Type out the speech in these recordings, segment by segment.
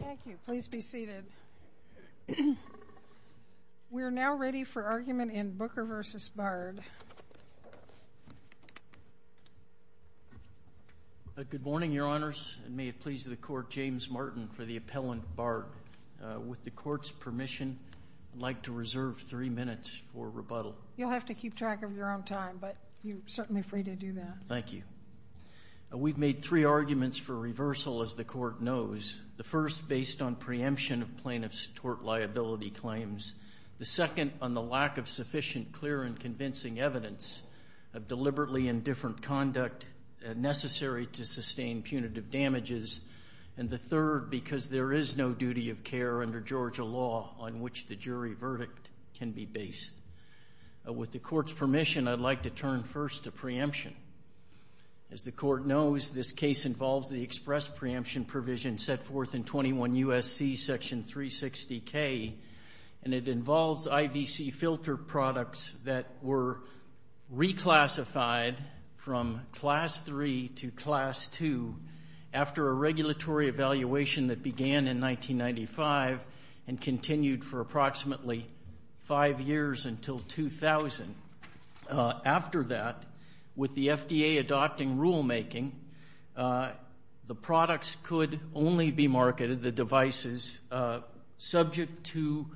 Thank you. Please be seated. We're now ready for argument in Booker v. Bard. Good morning, Your Honors, and may it please the Court, James Martin for the appellant, Bard. With the Court's permission, I'd like to reserve three minutes for rebuttal. You'll have to keep track of your own time, but you're certainly free to do that. Thank you. We've made three arguments for reversal, as the Court knows. The first, based on preemption of plaintiff's tort liability claims. The second, on the lack of sufficient clear and convincing evidence of deliberately indifferent conduct necessary to sustain punitive damages. And the third, because there is no duty of care under Georgia law on which the jury verdict can be based. With the Court's permission, I'd like to turn first to preemption. As the Court knows, this case involves the express preemption provision set forth in 21 U.S.C. Section 360K, and it involves IVC filter products that were reclassified from Class III to Class II after a regulatory evaluation that began in 1995 and continued for approximately five years until 2000. After that, with the FDA adopting rulemaking, the products could only be marketed, the devices subject to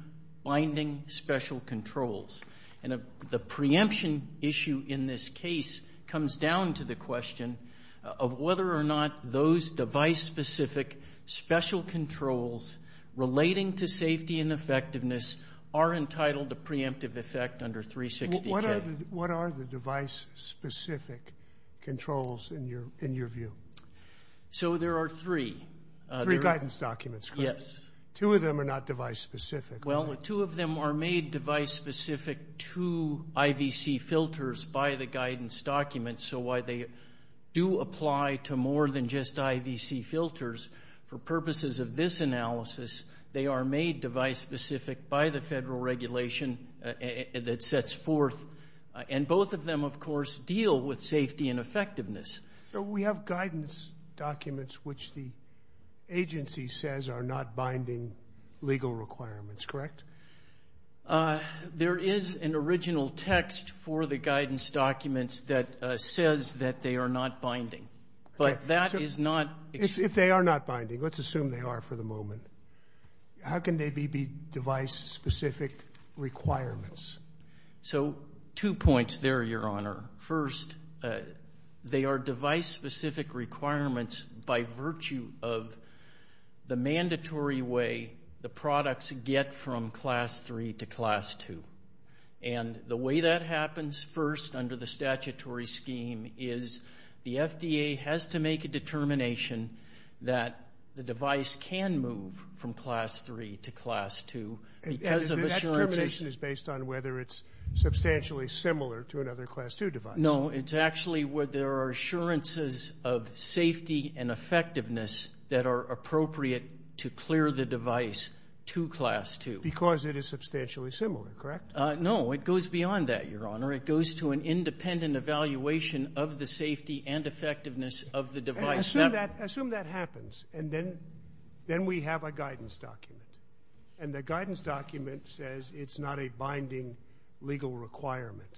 binding special controls. And the preemption issue in this case comes down to the question of whether or not those device-specific special controls relating to safety and effectiveness are entitled to preemptive effect under 360K. What are the device-specific controls, in your view? So there are three. Three guidance documents, correct? Yes. Two of them are not device-specific, are they? Well, two of them are made device-specific to IVC filters by the guidance documents, so while they do apply to more than just IVC filters, for purposes of this analysis, they are made device-specific by the federal regulation that sets forth. And both of them, of course, deal with safety and effectiveness. We have guidance documents which the agency says are not binding legal requirements, correct? There is an original text for the guidance documents that says that they are not binding, but that is not... If they are not binding, let's assume they are for the moment, how can they be device-specific requirements? So two points there, Your Honor. First, they are device-specific requirements by virtue of the mandatory way the products get from Class III to Class II. And the way that happens first under the statutory scheme is the FDA has to make a determination that the device can move from Class III to Class II because of assurances. The determination is based on whether it's substantially similar to another Class II device. No, it's actually where there are assurances of safety and effectiveness that are appropriate to clear the device to Class II. Because it is substantially similar, correct? No, it goes beyond that, Your Honor. It goes to an independent evaluation of the safety and effectiveness of the device. Assume that happens, and then we have a guidance document. And the guidance document says it's not a binding legal requirement.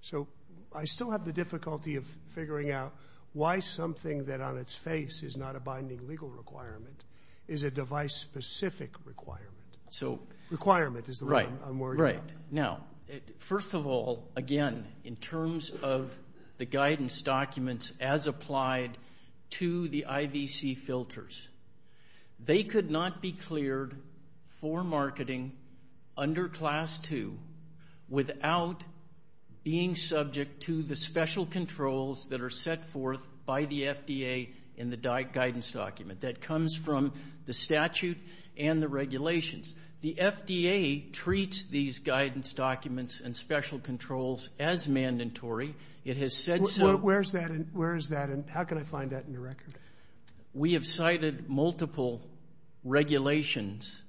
So I still have the difficulty of figuring out why something that on its face is not a binding legal requirement is a device-specific requirement. Requirement is the word I'm worried about. Right. Now, first of all, again, in terms of the guidance documents as applied to the IVC filters, they could not be cleared for marketing under Class II without being subject to the special controls that are set forth by the FDA in the guidance document. That comes from the statute and the regulations. The FDA treats these guidance documents and special controls as mandatory. It has said so. Where is that, and how can I find that in the record? We have cited multiple regulations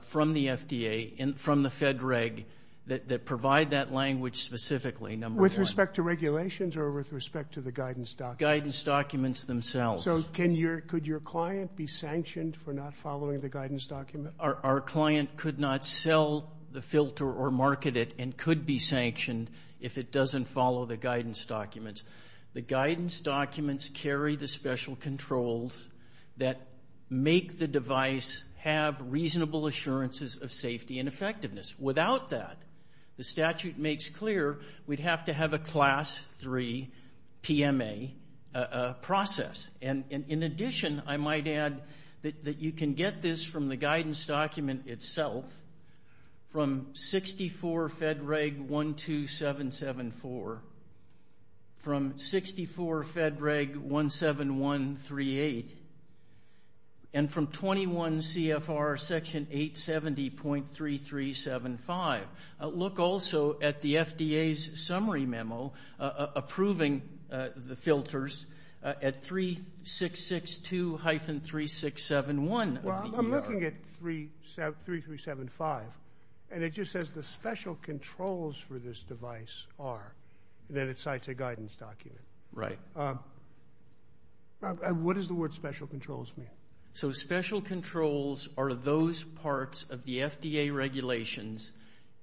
from the FDA and from the Fed Reg that provide that language specifically, number one. With respect to regulations or with respect to the guidance documents? Guidance documents themselves. So could your client be sanctioned for not following the guidance document? Our client could not sell the filter or market it and could be sanctioned if it doesn't follow the guidance documents. The guidance documents carry the special controls that make the device have reasonable assurances of safety and effectiveness. Without that, the statute makes clear we'd have to have a Class III PMA process. And in addition, I might add that you can get this from the guidance document itself, from 64 Fed Reg 12774, from 64 Fed Reg 17138, and from 21 CFR Section 870.3375. Look also at the FDA's summary memo approving the filters at 3662-3671. Well, I'm looking at 3375, and it just says the special controls for this device are that it cites a guidance document. Right. What does the word special controls mean? So special controls are those parts of the FDA regulations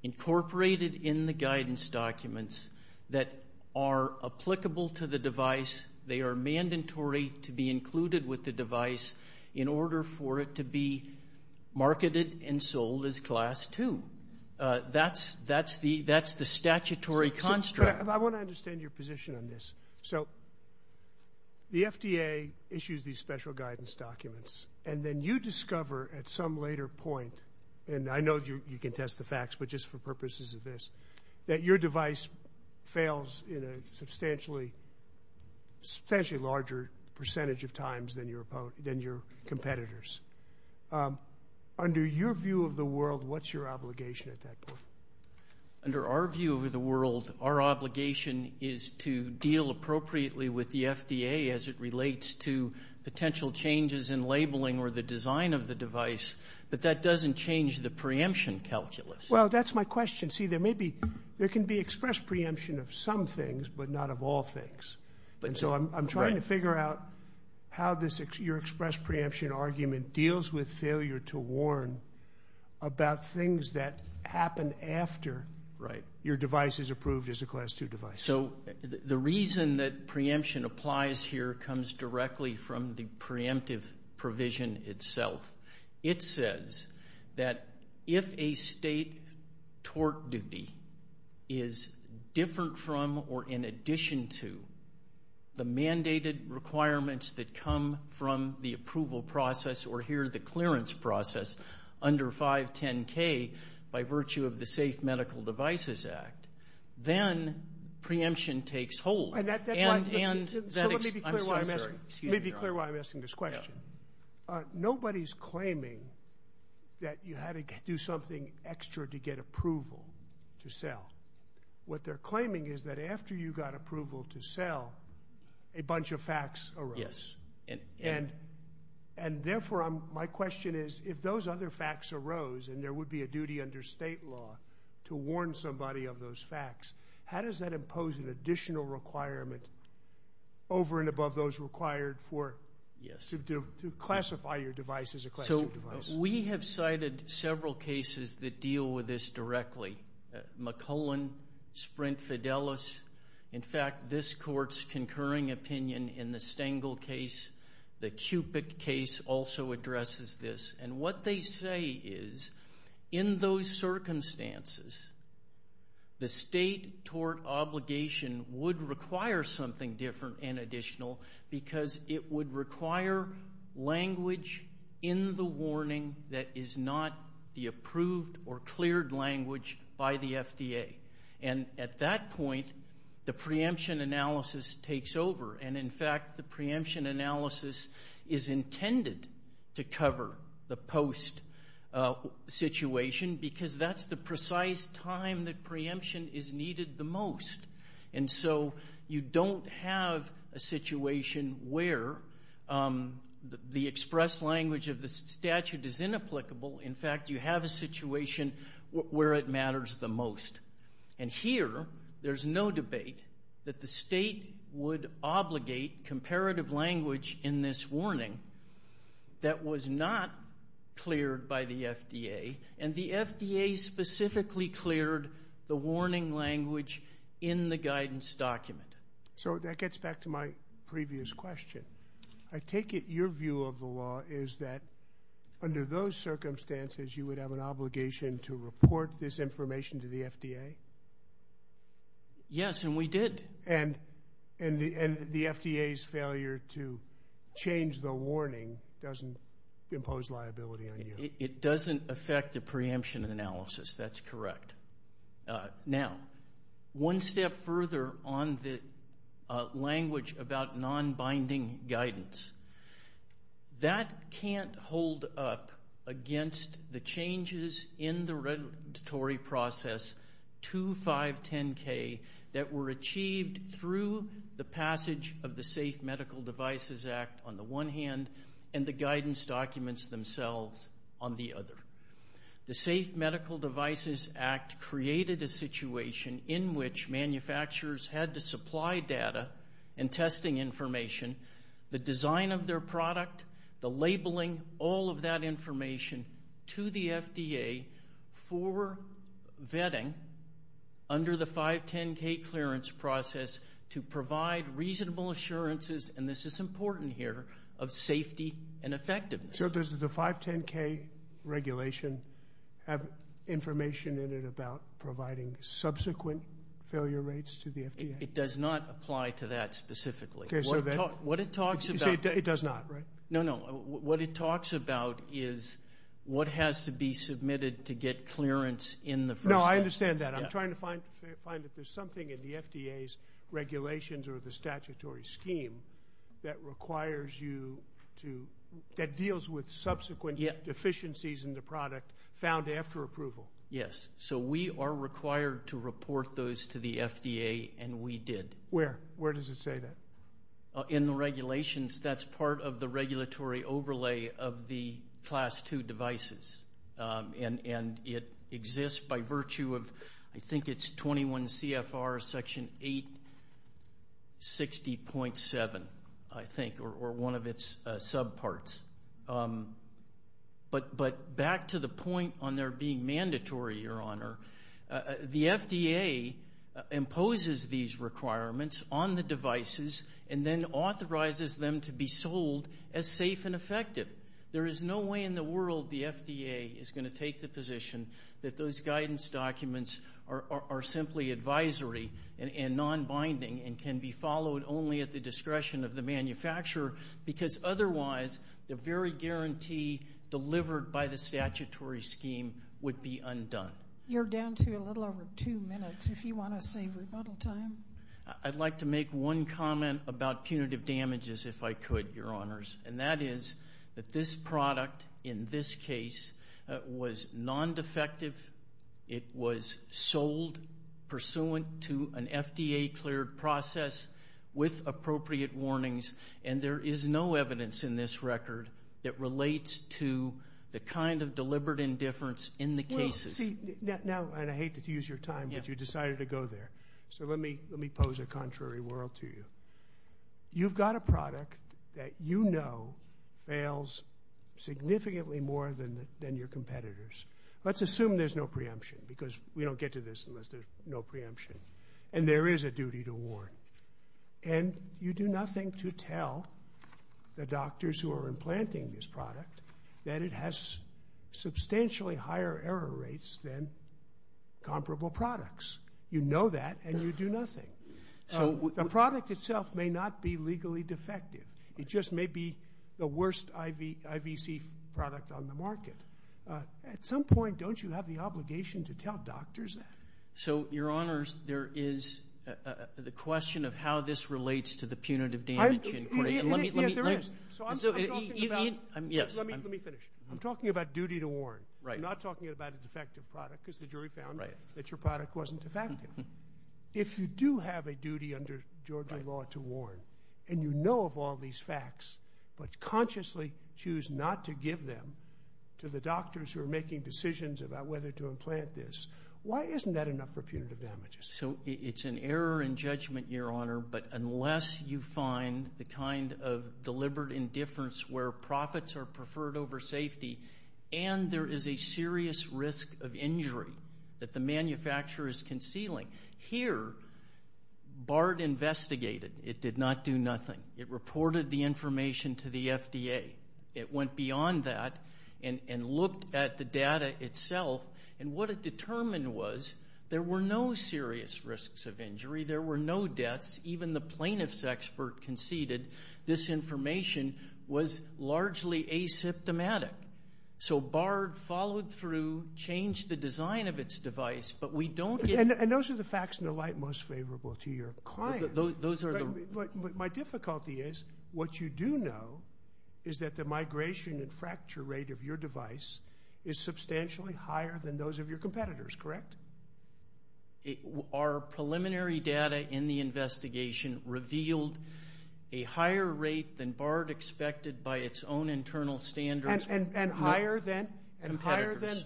incorporated in the guidance documents that are applicable to the device. They are mandatory to be included with the device in order for it to be marketed and sold as Class II. That's the statutory construct. I want to understand your position on this. So the FDA issues these special guidance documents, and then you discover at some later point, and I know you can test the facts, but just for purposes of this, that your device fails in a substantially larger percentage of times than your competitors. Under your view of the world, what's your obligation at that point? Under our view of the world, our obligation is to deal appropriately with the FDA as it relates to potential changes in labeling or the design of the device, but that doesn't change the preemption calculus. Well, that's my question. See, there can be expressed preemption of some things, but not of all things. I'm trying to figure out how your expressed preemption argument deals with failure to warn about things that happen after your device is approved as a Class II device. The reason that preemption applies here comes directly from the preemptive provision itself. It says that if a state torque duty is different from or in addition to the mandated requirements that come from the approval process, or here the clearance process, under 510K by virtue of the Safe Medical Devices Act, then preemption takes hold. And that's why... So let me be clear why I'm asking this question. Nobody's claiming that you had to do something extra to get approval to sell. What they're claiming is that after you got approval to sell, a bunch of facts arose. Yes. And therefore, my question is, if those other facts arose and there would be a duty under state law to warn somebody of those facts, how does that impose an additional requirement over and above those required to classify your device as a Class II device? So we have cited several cases that deal with this directly. McClellan, Sprint, Fidelis. In fact, this court's concurring opinion in the Stengel case, the Cupic case, also addresses this. And what they say is, in those circumstances, the state torque obligation would require something different and additional because it would require language in the warning that is not the approved or cleared language by the FDA. And at that point, the preemption analysis takes over. And in fact, the preemption analysis is intended to cover the post situation because that's the precise time that preemption is needed the most. And so you don't have a situation where the expressed language of the statute is inapplicable. In fact, you have a situation where it matters the most. And here, there's no debate that the state would obligate comparative language in this warning that was not cleared by the FDA. And the FDA specifically cleared the warning language in the guidance document. So that gets back to my previous question. I take it your view of the law is that, under those circumstances, you would have an obligation to report this information to the FDA? Yes, and we did. And the FDA's failure to change the warning doesn't impose liability on you? It doesn't affect the preemption analysis. That's correct. Now, one step further on the language about non-binding guidance. That can't hold up against the changes in the regulatory process 2510K that were achieved through the passage of the Safe Medical Devices Act, on the one hand, and the guidance documents themselves, on the other. The Safe Medical Devices Act created a situation in which manufacturers had to supply data and testing information, the design of their product, the labeling, all of that information to the FDA for vetting under the 510K clearance process to provide reasonable assurances, and this is important here, of safety and effectiveness. So does the 510K regulation have information in it about providing subsequent failure rates to the FDA? It does not apply to that specifically. What it talks about is what has to be submitted to get clearance in the first instance. No, I understand that. I'm trying to find that there's something in the FDA's regulations or the statutory scheme that requires you to, that deals with subsequent deficiencies in the product found after approval. Yes. So we are required to report those to the FDA, and we did. Where? Where does it say that? In the regulations. That's part of the regulatory overlay of the Class II devices, and it exists by virtue of, I think it's 21 CFR Section 860.7, I think, or one of its subparts. But back to the point on there being mandatory, Your Honor, the FDA imposes these requirements on the devices and then authorizes them to be sold as safe and effective. There is no way in the world the FDA is going to take the position that those guidance documents are simply advisory and non-binding and can be followed only at the discretion of the manufacturer, because otherwise the very guarantee delivered by the statutory scheme would be undone. You're down to a little over two minutes, if you want to save rebuttal time. I'd like to make one comment about punitive damages, if I could, Your Honors, and that is that this product in this case was non-defective. It was sold pursuant to an FDA-cleared process with appropriate warnings, and there is no evidence in this record that relates to the kind of deliberate indifference in the cases. Well, see, now, and I hate to use your time, but you decided to go there, so let me pose a contrary world to you. You've got a product that you know fails significantly more than your competitors. Let's assume there's no preemption, because we don't get to this unless there's no preemption, and there is a duty to warn, and you do nothing to tell the doctors who are implanting this product that it has substantially higher error rates than comparable products. You know that, and you do nothing. So the product itself may not be legally defective. It just may be the worst IVC product on the market. At some point, don't you have the obligation to tell doctors that? So, Your Honors, there is the question of how this relates to the punitive damage inquiry. Let me finish. I'm talking about duty to warn. I'm not talking about a defective product, because the jury found that your product wasn't defective. If you do have a duty under Georgia law to warn, and you know of all these facts, but consciously choose not to give them to the doctors who are making decisions about whether to implant this, why isn't that enough for punitive damages? So it's an error in judgment, Your Honor, but unless you find the kind of deliberate indifference where profits are preferred over safety and there is a serious risk of injury that the manufacturer is concealing. Here, BART investigated. It did not do nothing. It reported the information to the FDA. It went beyond that and looked at the data itself, and what it determined was there were no serious risks of injury. There were no deaths. Even the plaintiff's expert conceded this information was largely asymptomatic. So BART followed through, changed the design of its device, but we don't get. And those are the facts in the light most favorable to your client. Those are the. But my difficulty is what you do know is that the migration and fracture rate of your device is substantially higher than those of your competitors, correct? Our preliminary data in the investigation revealed a higher rate than BART expected by its own internal standards. And higher than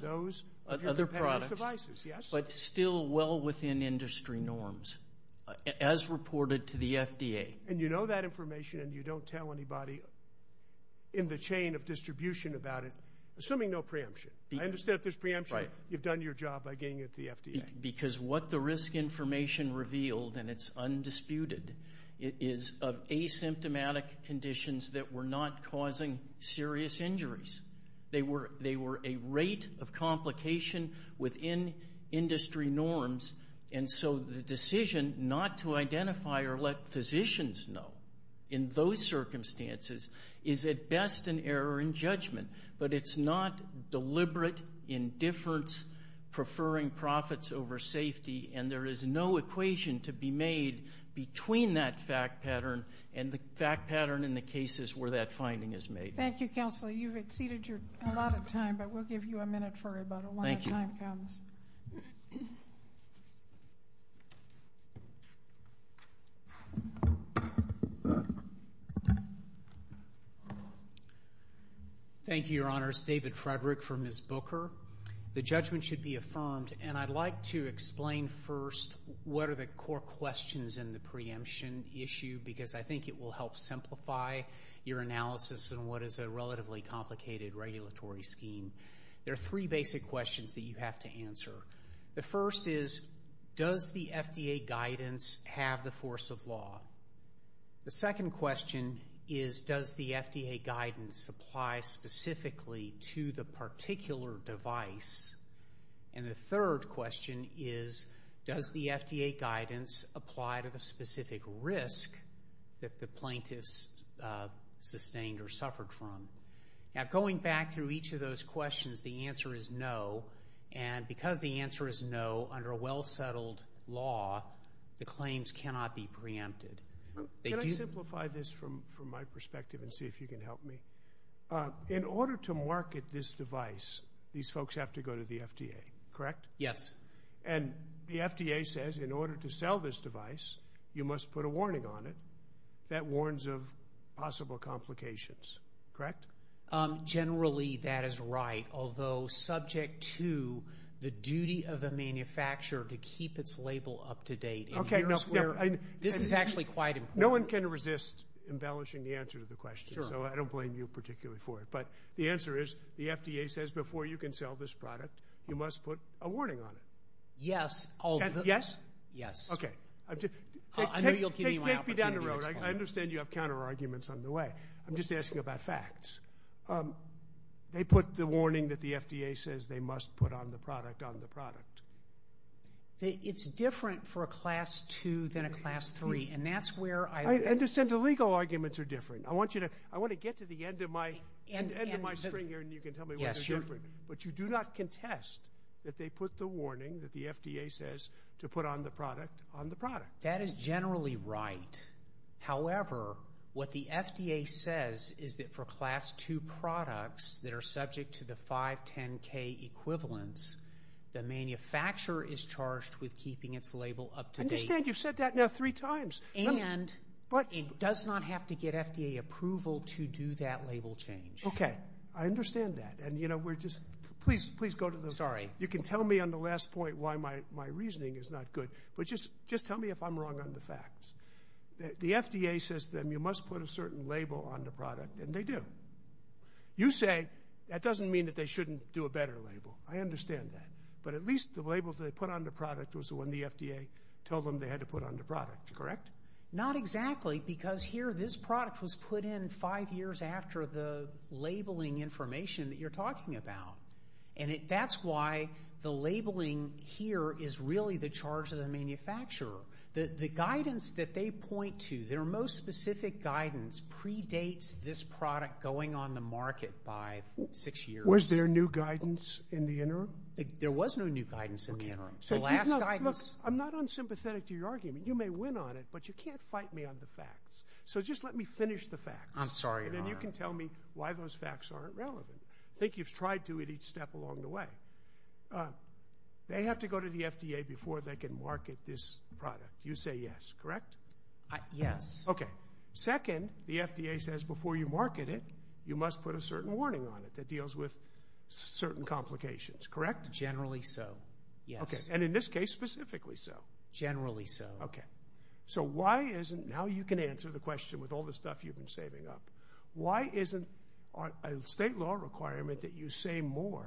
those of your competitors' devices, yes. But still well within industry norms, as reported to the FDA. And you know that information and you don't tell anybody in the chain of distribution about it, assuming no preemption. I understand if there's preemption, you've done your job by getting it to the FDA. Because what the risk information revealed, and it's undisputed, is of asymptomatic conditions that were not causing serious injuries. They were a rate of complication within industry norms, and so the decision not to identify or let physicians know in those circumstances is at best an error in judgment. But it's not deliberate indifference preferring profits over safety, and there is no equation to be made between that fact pattern and the fact pattern in the cases where that finding is made. Thank you, Counselor. You've exceeded a lot of time, but we'll give you a minute for it. Thank you. But a lot of time comes. Please. Thank you, Your Honors. David Frederick for Ms. Booker. The judgment should be affirmed, and I'd like to explain first what are the core questions in the preemption issue, because I think it will help simplify your analysis in what is a relatively complicated regulatory scheme. There are three basic questions that you have to answer. The first is, does the FDA guidance have the force of law? The second question is, does the FDA guidance apply specifically to the particular device? And the third question is, does the FDA guidance apply to the specific risk that the plaintiffs sustained or suffered from? Now, going back through each of those questions, the answer is no, and because the answer is no, under a well-settled law, the claims cannot be preempted. Can I simplify this from my perspective and see if you can help me? In order to market this device, these folks have to go to the FDA, correct? Yes. And the FDA says in order to sell this device, you must put a warning on it that warns of possible complications, correct? Generally, that is right, although subject to the duty of the manufacturer to keep its label up to date in years where this is actually quite important. No one can resist embellishing the answer to the question, so I don't blame you particularly for it, but the answer is the FDA says before you can sell this product, you must put a warning on it. Yes. Yes? Yes. Okay. I know you'll give me my opportunity to explain. Take me down the road. I understand you have counterarguments on the way. I'm just asking about facts. They put the warning that the FDA says they must put on the product on the product. It's different for a Class II than a Class III, and that's where I... I understand the legal arguments are different. I want you to get to the end of my string here, and you can tell me why they're different, but you do not contest that they put the warning that the FDA says to put on the product on the product. That is generally right. However, what the FDA says is that for Class II products that are subject to the 510K equivalents, the manufacturer is charged with keeping its label up to date. I understand you've said that now three times. And it does not have to get FDA approval to do that label change. Okay. I understand that, and, you know, we're just... Please go to the... Sorry. You can tell me on the last point why my reasoning is not good, but just tell me if I'm wrong on the facts. The FDA says to them you must put a certain label on the product, and they do. You say that doesn't mean that they shouldn't do a better label. I understand that. But at least the label that they put on the product was the one the FDA told them they had to put on the product, correct? Not exactly, because here this product was put in five years after the labeling information that you're talking about. And that's why the labeling here is really the charge of the manufacturer. The guidance that they point to, their most specific guidance, predates this product going on the market by six years. Was there new guidance in the interim? There was no new guidance in the interim. The last guidance... Look, I'm not unsympathetic to your argument. You may win on it, but you can't fight me on the facts. So just let me finish the facts. I'm sorry, Your Honor. And then you can tell me why those facts aren't relevant. I think you've tried to at each step along the way. They have to go to the FDA before they can market this product. You say yes, correct? Yes. Okay. Second, the FDA says before you market it, you must put a certain warning on it that deals with certain complications, correct? Generally so, yes. Okay. And in this case, specifically so? Generally so. Okay. So why isn't... Now you can answer the question with all the stuff you've been saving up. Why isn't a state law requirement that you say more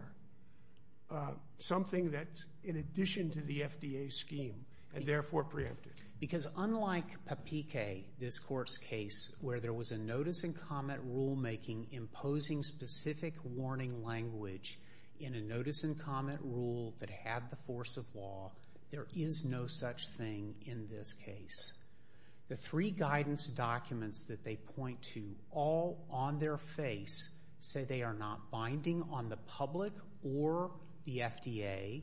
something that's in addition to the FDA scheme and therefore preemptive? Because unlike Papike, this court's case, where there was a notice and comment rulemaking imposing specific warning language in a notice and comment rule that had the force of law, there is no such thing in this case. The three guidance documents that they point to all on their face say they are not binding on the public or the FDA.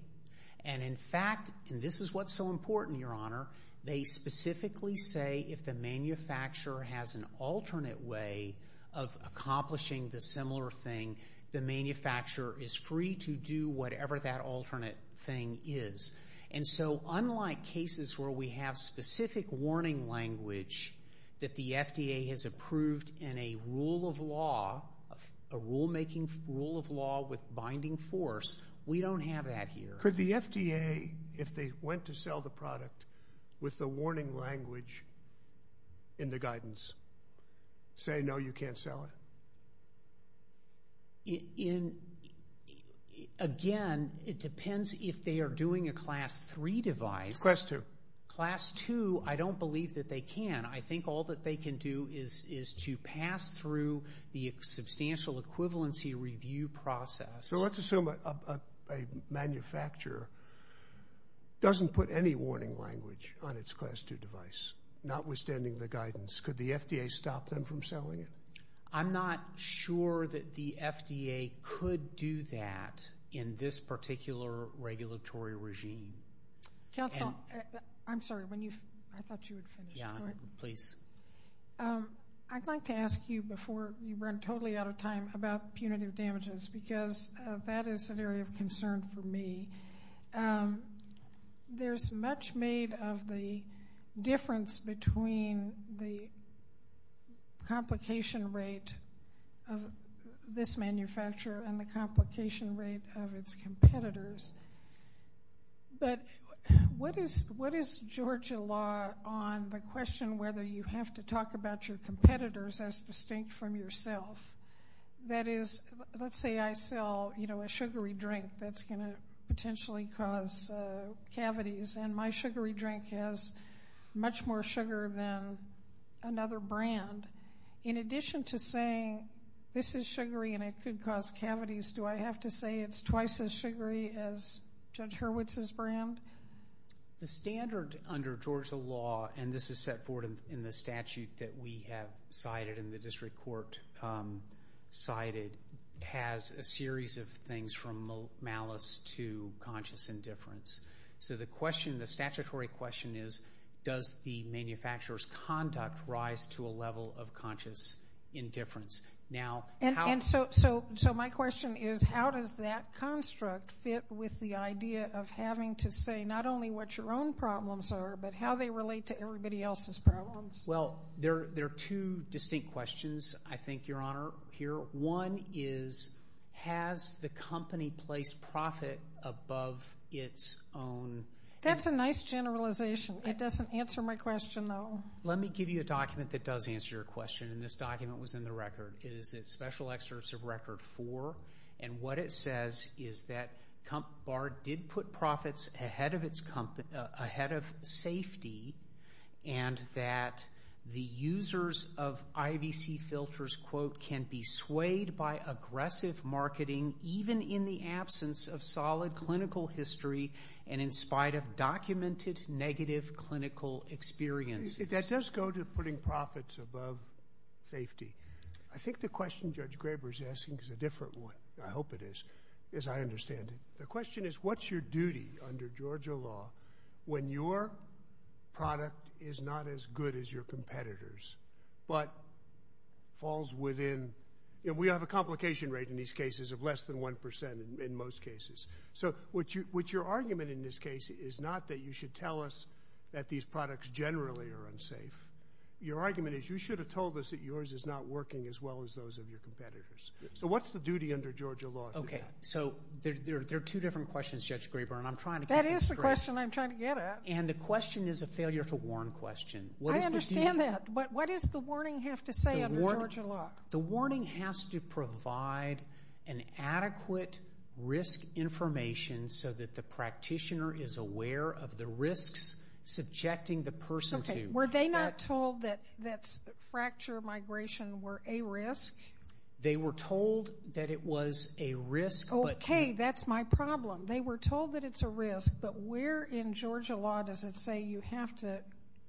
And in fact, and this is what's so important, Your Honor, they specifically say if the manufacturer has an alternate way of accomplishing the similar thing, the manufacturer is free to do whatever that alternate thing is. And so unlike cases where we have specific warning language that the FDA has approved in a rule of law, a rulemaking rule of law with binding force, we don't have that here. Could the FDA, if they went to sell the product, with the warning language in the guidance say, no, you can't sell it? Again, it depends if they are doing a Class 3 device. Class 2. Class 2, I don't believe that they can. I think all that they can do is to pass through the substantial equivalency review process. So let's assume a manufacturer doesn't put any warning language on its Class 2 device, notwithstanding the guidance. Could the FDA stop them from selling it? I'm not sure that the FDA could do that in this particular regulatory regime. Counsel, I'm sorry. I thought you would finish. Please. I'd like to ask you before you run totally out of time about punitive damages because that is an area of concern for me. There's much made of the difference between the complication rate of this manufacturer and the complication rate of its competitors. But what is Georgia law on the question whether you have to talk about your competitors as distinct from yourself? That is, let's say I sell a sugary drink. That's going to potentially cause cavities, and my sugary drink has much more sugar than another brand. In addition to saying this is sugary and it could cause cavities, do I have to say it's twice as sugary as Judge Hurwitz's brand? The standard under Georgia law, and this is set forth in the statute that we have cited and the district court cited, has a series of things from malice to conscious indifference. So the statutory question is, does the manufacturer's conduct rise to a level of conscious indifference? So my question is, how does that construct fit with the idea of having to say not only what your own problems are but how they relate to everybody else's problems? Well, there are two distinct questions, I think, Your Honor, here. One is, has the company placed profit above its own? That's a nice generalization. It doesn't answer my question, though. Let me give you a document that does answer your question, and this document was in the record. It is Special Excerpt of Record 4, and what it says is that Comp Bar did put profits ahead of safety and that the users of IVC filters, quote, can be swayed by aggressive marketing even in the absence of solid clinical history and in spite of documented negative clinical experiences. That does go to putting profits above safety. I think the question Judge Graber is asking is a different one. I hope it is, as I understand it. The question is, what's your duty under Georgia law when your product is not as good as your competitors but falls within? We have a complication rate in these cases of less than 1% in most cases. So what's your argument in this case is not that you should tell us that these products generally are unsafe. Your argument is you should have told us that yours is not working as well as those of your competitors. So what's the duty under Georgia law? There are two different questions, Judge Graber, and I'm trying to get this correct. And the question is a failure to warn question. I understand that, but what does the warning have to say under Georgia law? The warning has to provide an adequate risk information so that the practitioner is aware of the risks subjecting the person to. Okay, were they not told that fracture migration were a risk? They were told that it was a risk. Okay, that's my problem. They were told that it's a risk, but where in Georgia law does it say you have to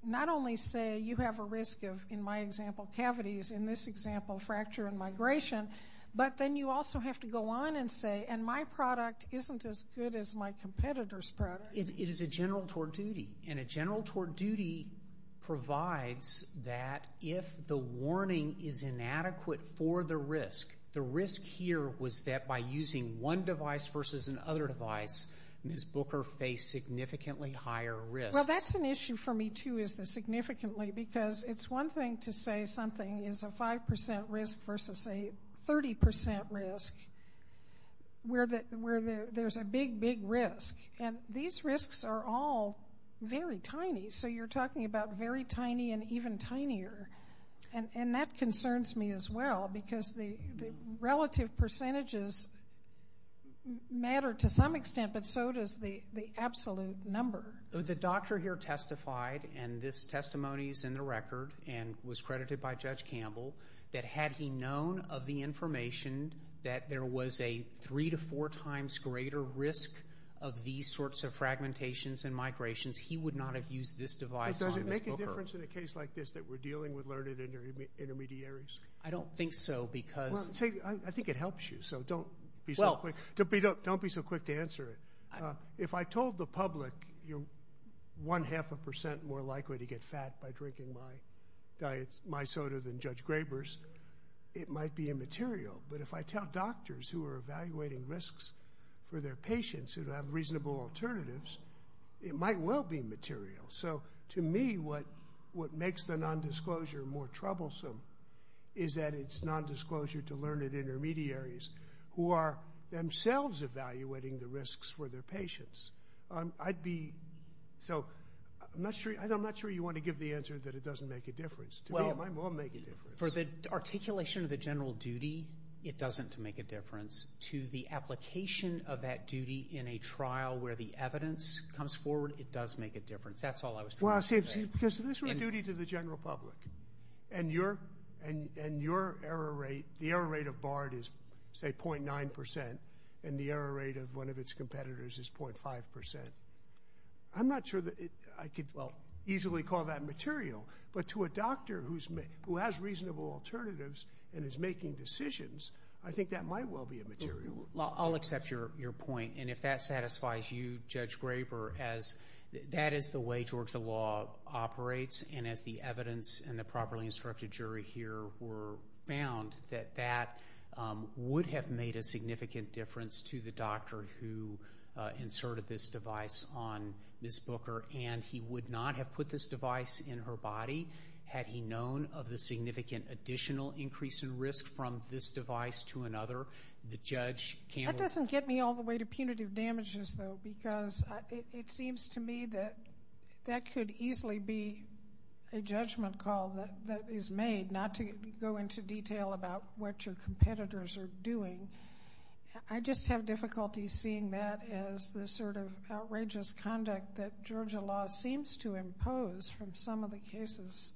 not only say you have a risk of, in my example, cavities, in this example, fracture and migration, but then you also have to go on and say, and my product isn't as good as my competitor's product. It is a general tort duty, and a general tort duty provides that if the warning is inadequate for the risk, the risk here was that by using one device versus another device, Ms. Booker faced significantly higher risk. Well, that's an issue for me, too, is the significantly, because it's one thing to say something is a 5% risk versus a 30% risk, where there's a big, big risk, and these risks are all very tiny. So you're talking about very tiny and even tinier, and that concerns me as well, because the relative percentages matter to some extent, but so does the absolute number. The doctor here testified, and this testimony is in the record and was credited by Judge Campbell, that had he known of the information that there was a three to four times greater risk of these sorts of fragmentations and migrations, he would not have used this device on Ms. Booker. Is there a difference in a case like this that we're dealing with learned intermediaries? I don't think so, because— I think it helps you, so don't be so quick to answer it. If I told the public you're one half a percent more likely to get fat by drinking my soda than Judge Graber's, it might be immaterial, but if I tell doctors who are evaluating risks for their patients who have reasonable alternatives, it might well be material. So to me, what makes the nondisclosure more troublesome is that it's nondisclosure to learned intermediaries who are themselves evaluating the risks for their patients. I'd be—so I'm not sure you want to give the answer that it doesn't make a difference. To me, it might well make a difference. For the articulation of the general duty, it doesn't make a difference. To the application of that duty in a trial where the evidence comes forward, it does make a difference. That's all I was trying to say. Well, see, because this is a duty to the general public, and your error rate, the error rate of BARD is, say, 0.9%, and the error rate of one of its competitors is 0.5%. I'm not sure that I could easily call that material, but to a doctor who has reasonable alternatives and is making decisions, I think that might well be a material. I'll accept your point, and if that satisfies you, Judge Graber, as that is the way Georgia law operates, and as the evidence and the properly instructed jury here were found, that that would have made a significant difference to the doctor who inserted this device on Ms. Booker, and he would not have put this device in her body had he known of the significant additional increase in risk from this device to another. That doesn't get me all the way to punitive damages, though, because it seems to me that that could easily be a judgment call that is made, not to go into detail about what your competitors are doing. I just have difficulty seeing that as the sort of outrageous conduct that Georgia law seems to impose from some of the cases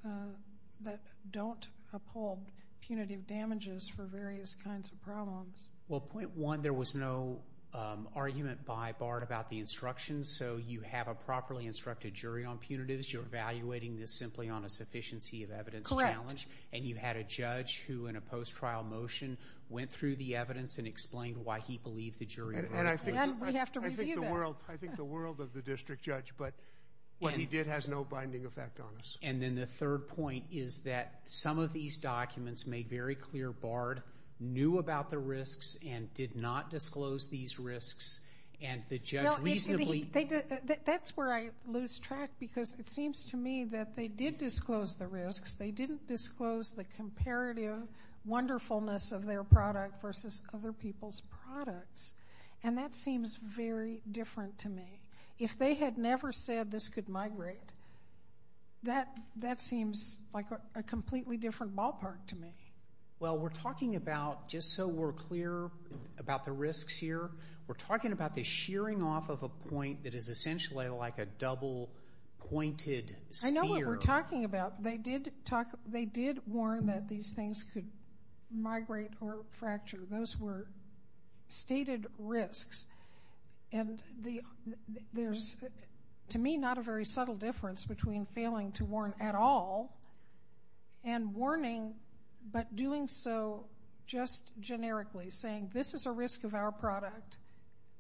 that don't uphold punitive damages for various kinds of problems. Well, point one, there was no argument by Bard about the instructions, so you have a properly instructed jury on punitives. You're evaluating this simply on a sufficiency of evidence challenge. Correct. And you had a judge who, in a post-trial motion, went through the evidence and explained why he believed the jury. And we have to review that. I think the world of the district judge, but what he did has no binding effect on us. And then the third point is that some of these documents made very clear Bard knew about the risks and did not disclose these risks, and the judge reasonably— That's where I lose track, because it seems to me that they did disclose the risks. They didn't disclose the comparative wonderfulness of their product versus other people's products, and that seems very different to me. If they had never said this could migrate, that seems like a completely different ballpark to me. Well, we're talking about, just so we're clear about the risks here, we're talking about the shearing off of a point that is essentially like a double-pointed sphere. I know what we're talking about. They did warn that these things could migrate or fracture. Those were stated risks. And there's, to me, not a very subtle difference between failing to warn at all and warning but doing so just generically, saying this is a risk of our product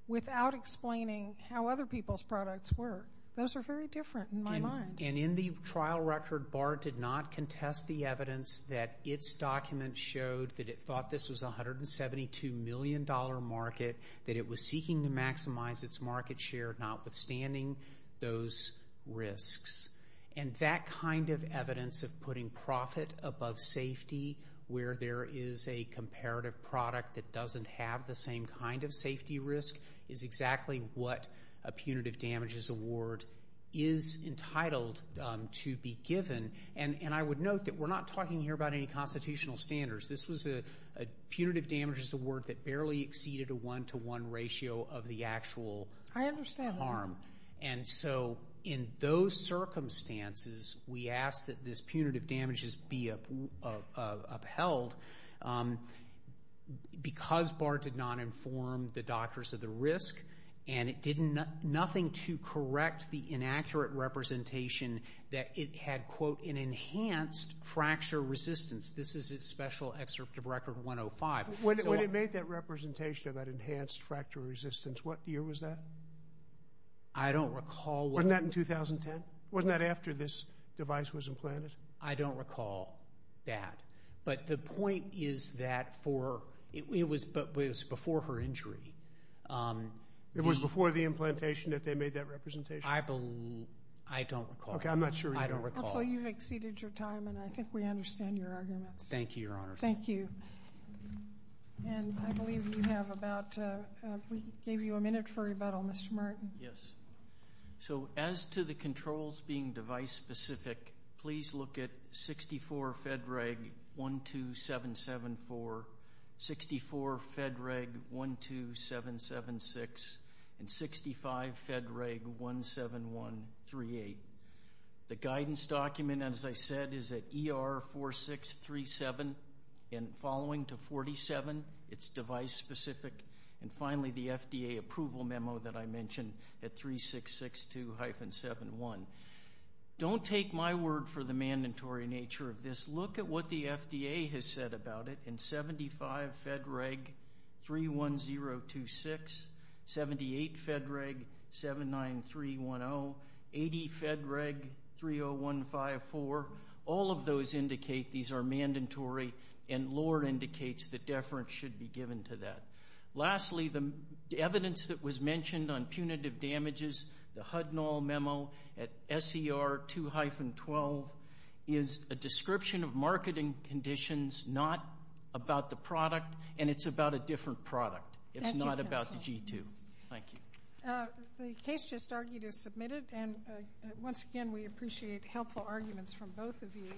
without explaining how other people's products work. Those are very different in my mind. And in the trial record, Bard did not contest the evidence that its document showed that it thought this was a $172 million market, that it was seeking to maximize its market share notwithstanding those risks. And that kind of evidence of putting profit above safety, where there is a comparative product that doesn't have the same kind of safety risk, is exactly what a punitive damages award is entitled to be given. And I would note that we're not talking here about any constitutional standards. This was a punitive damages award that barely exceeded a one-to-one ratio of the actual harm. I understand that. And so in those circumstances, we ask that this punitive damages be upheld because Bard did not inform the doctors of the risk and it did nothing to correct the inaccurate representation that it had, quote, an enhanced fracture resistance. This is its special excerpt of Record 105. When it made that representation of that enhanced fracture resistance, what year was that? I don't recall. Wasn't that in 2010? Wasn't that after this device was implanted? I don't recall that. But the point is that it was before her injury. It was before the implantation that they made that representation? I don't recall. Okay, I'm not sure you do. I don't recall. Counsel, you've exceeded your time, and I think we understand your arguments. Thank you, Your Honor. Thank you. And I believe we gave you a minute for rebuttal. Mr. Martin. Yes. So as to the controls being device-specific, please look at 64 FEDREG12774, 64 FEDREG12776, and 65 FEDREG17138. The guidance document, as I said, is at ER4637, and following to 47, it's device-specific. And finally, the FDA approval memo that I mentioned at 3662-71. Don't take my word for the mandatory nature of this. Look at what the FDA has said about it, and 75 FEDREG31026, 78 FEDREG79310, 80 FEDREG30154. All of those indicate these are mandatory, and lower indicates that deference should be given to that. Lastly, the evidence that was mentioned on punitive damages, the Hudnall memo at SER2-12 is a description of marketing conditions, not about the product, and it's about a different product. It's not about the G2. Thank you. The case just argued is submitted, and once again, we appreciate helpful arguments from both of you.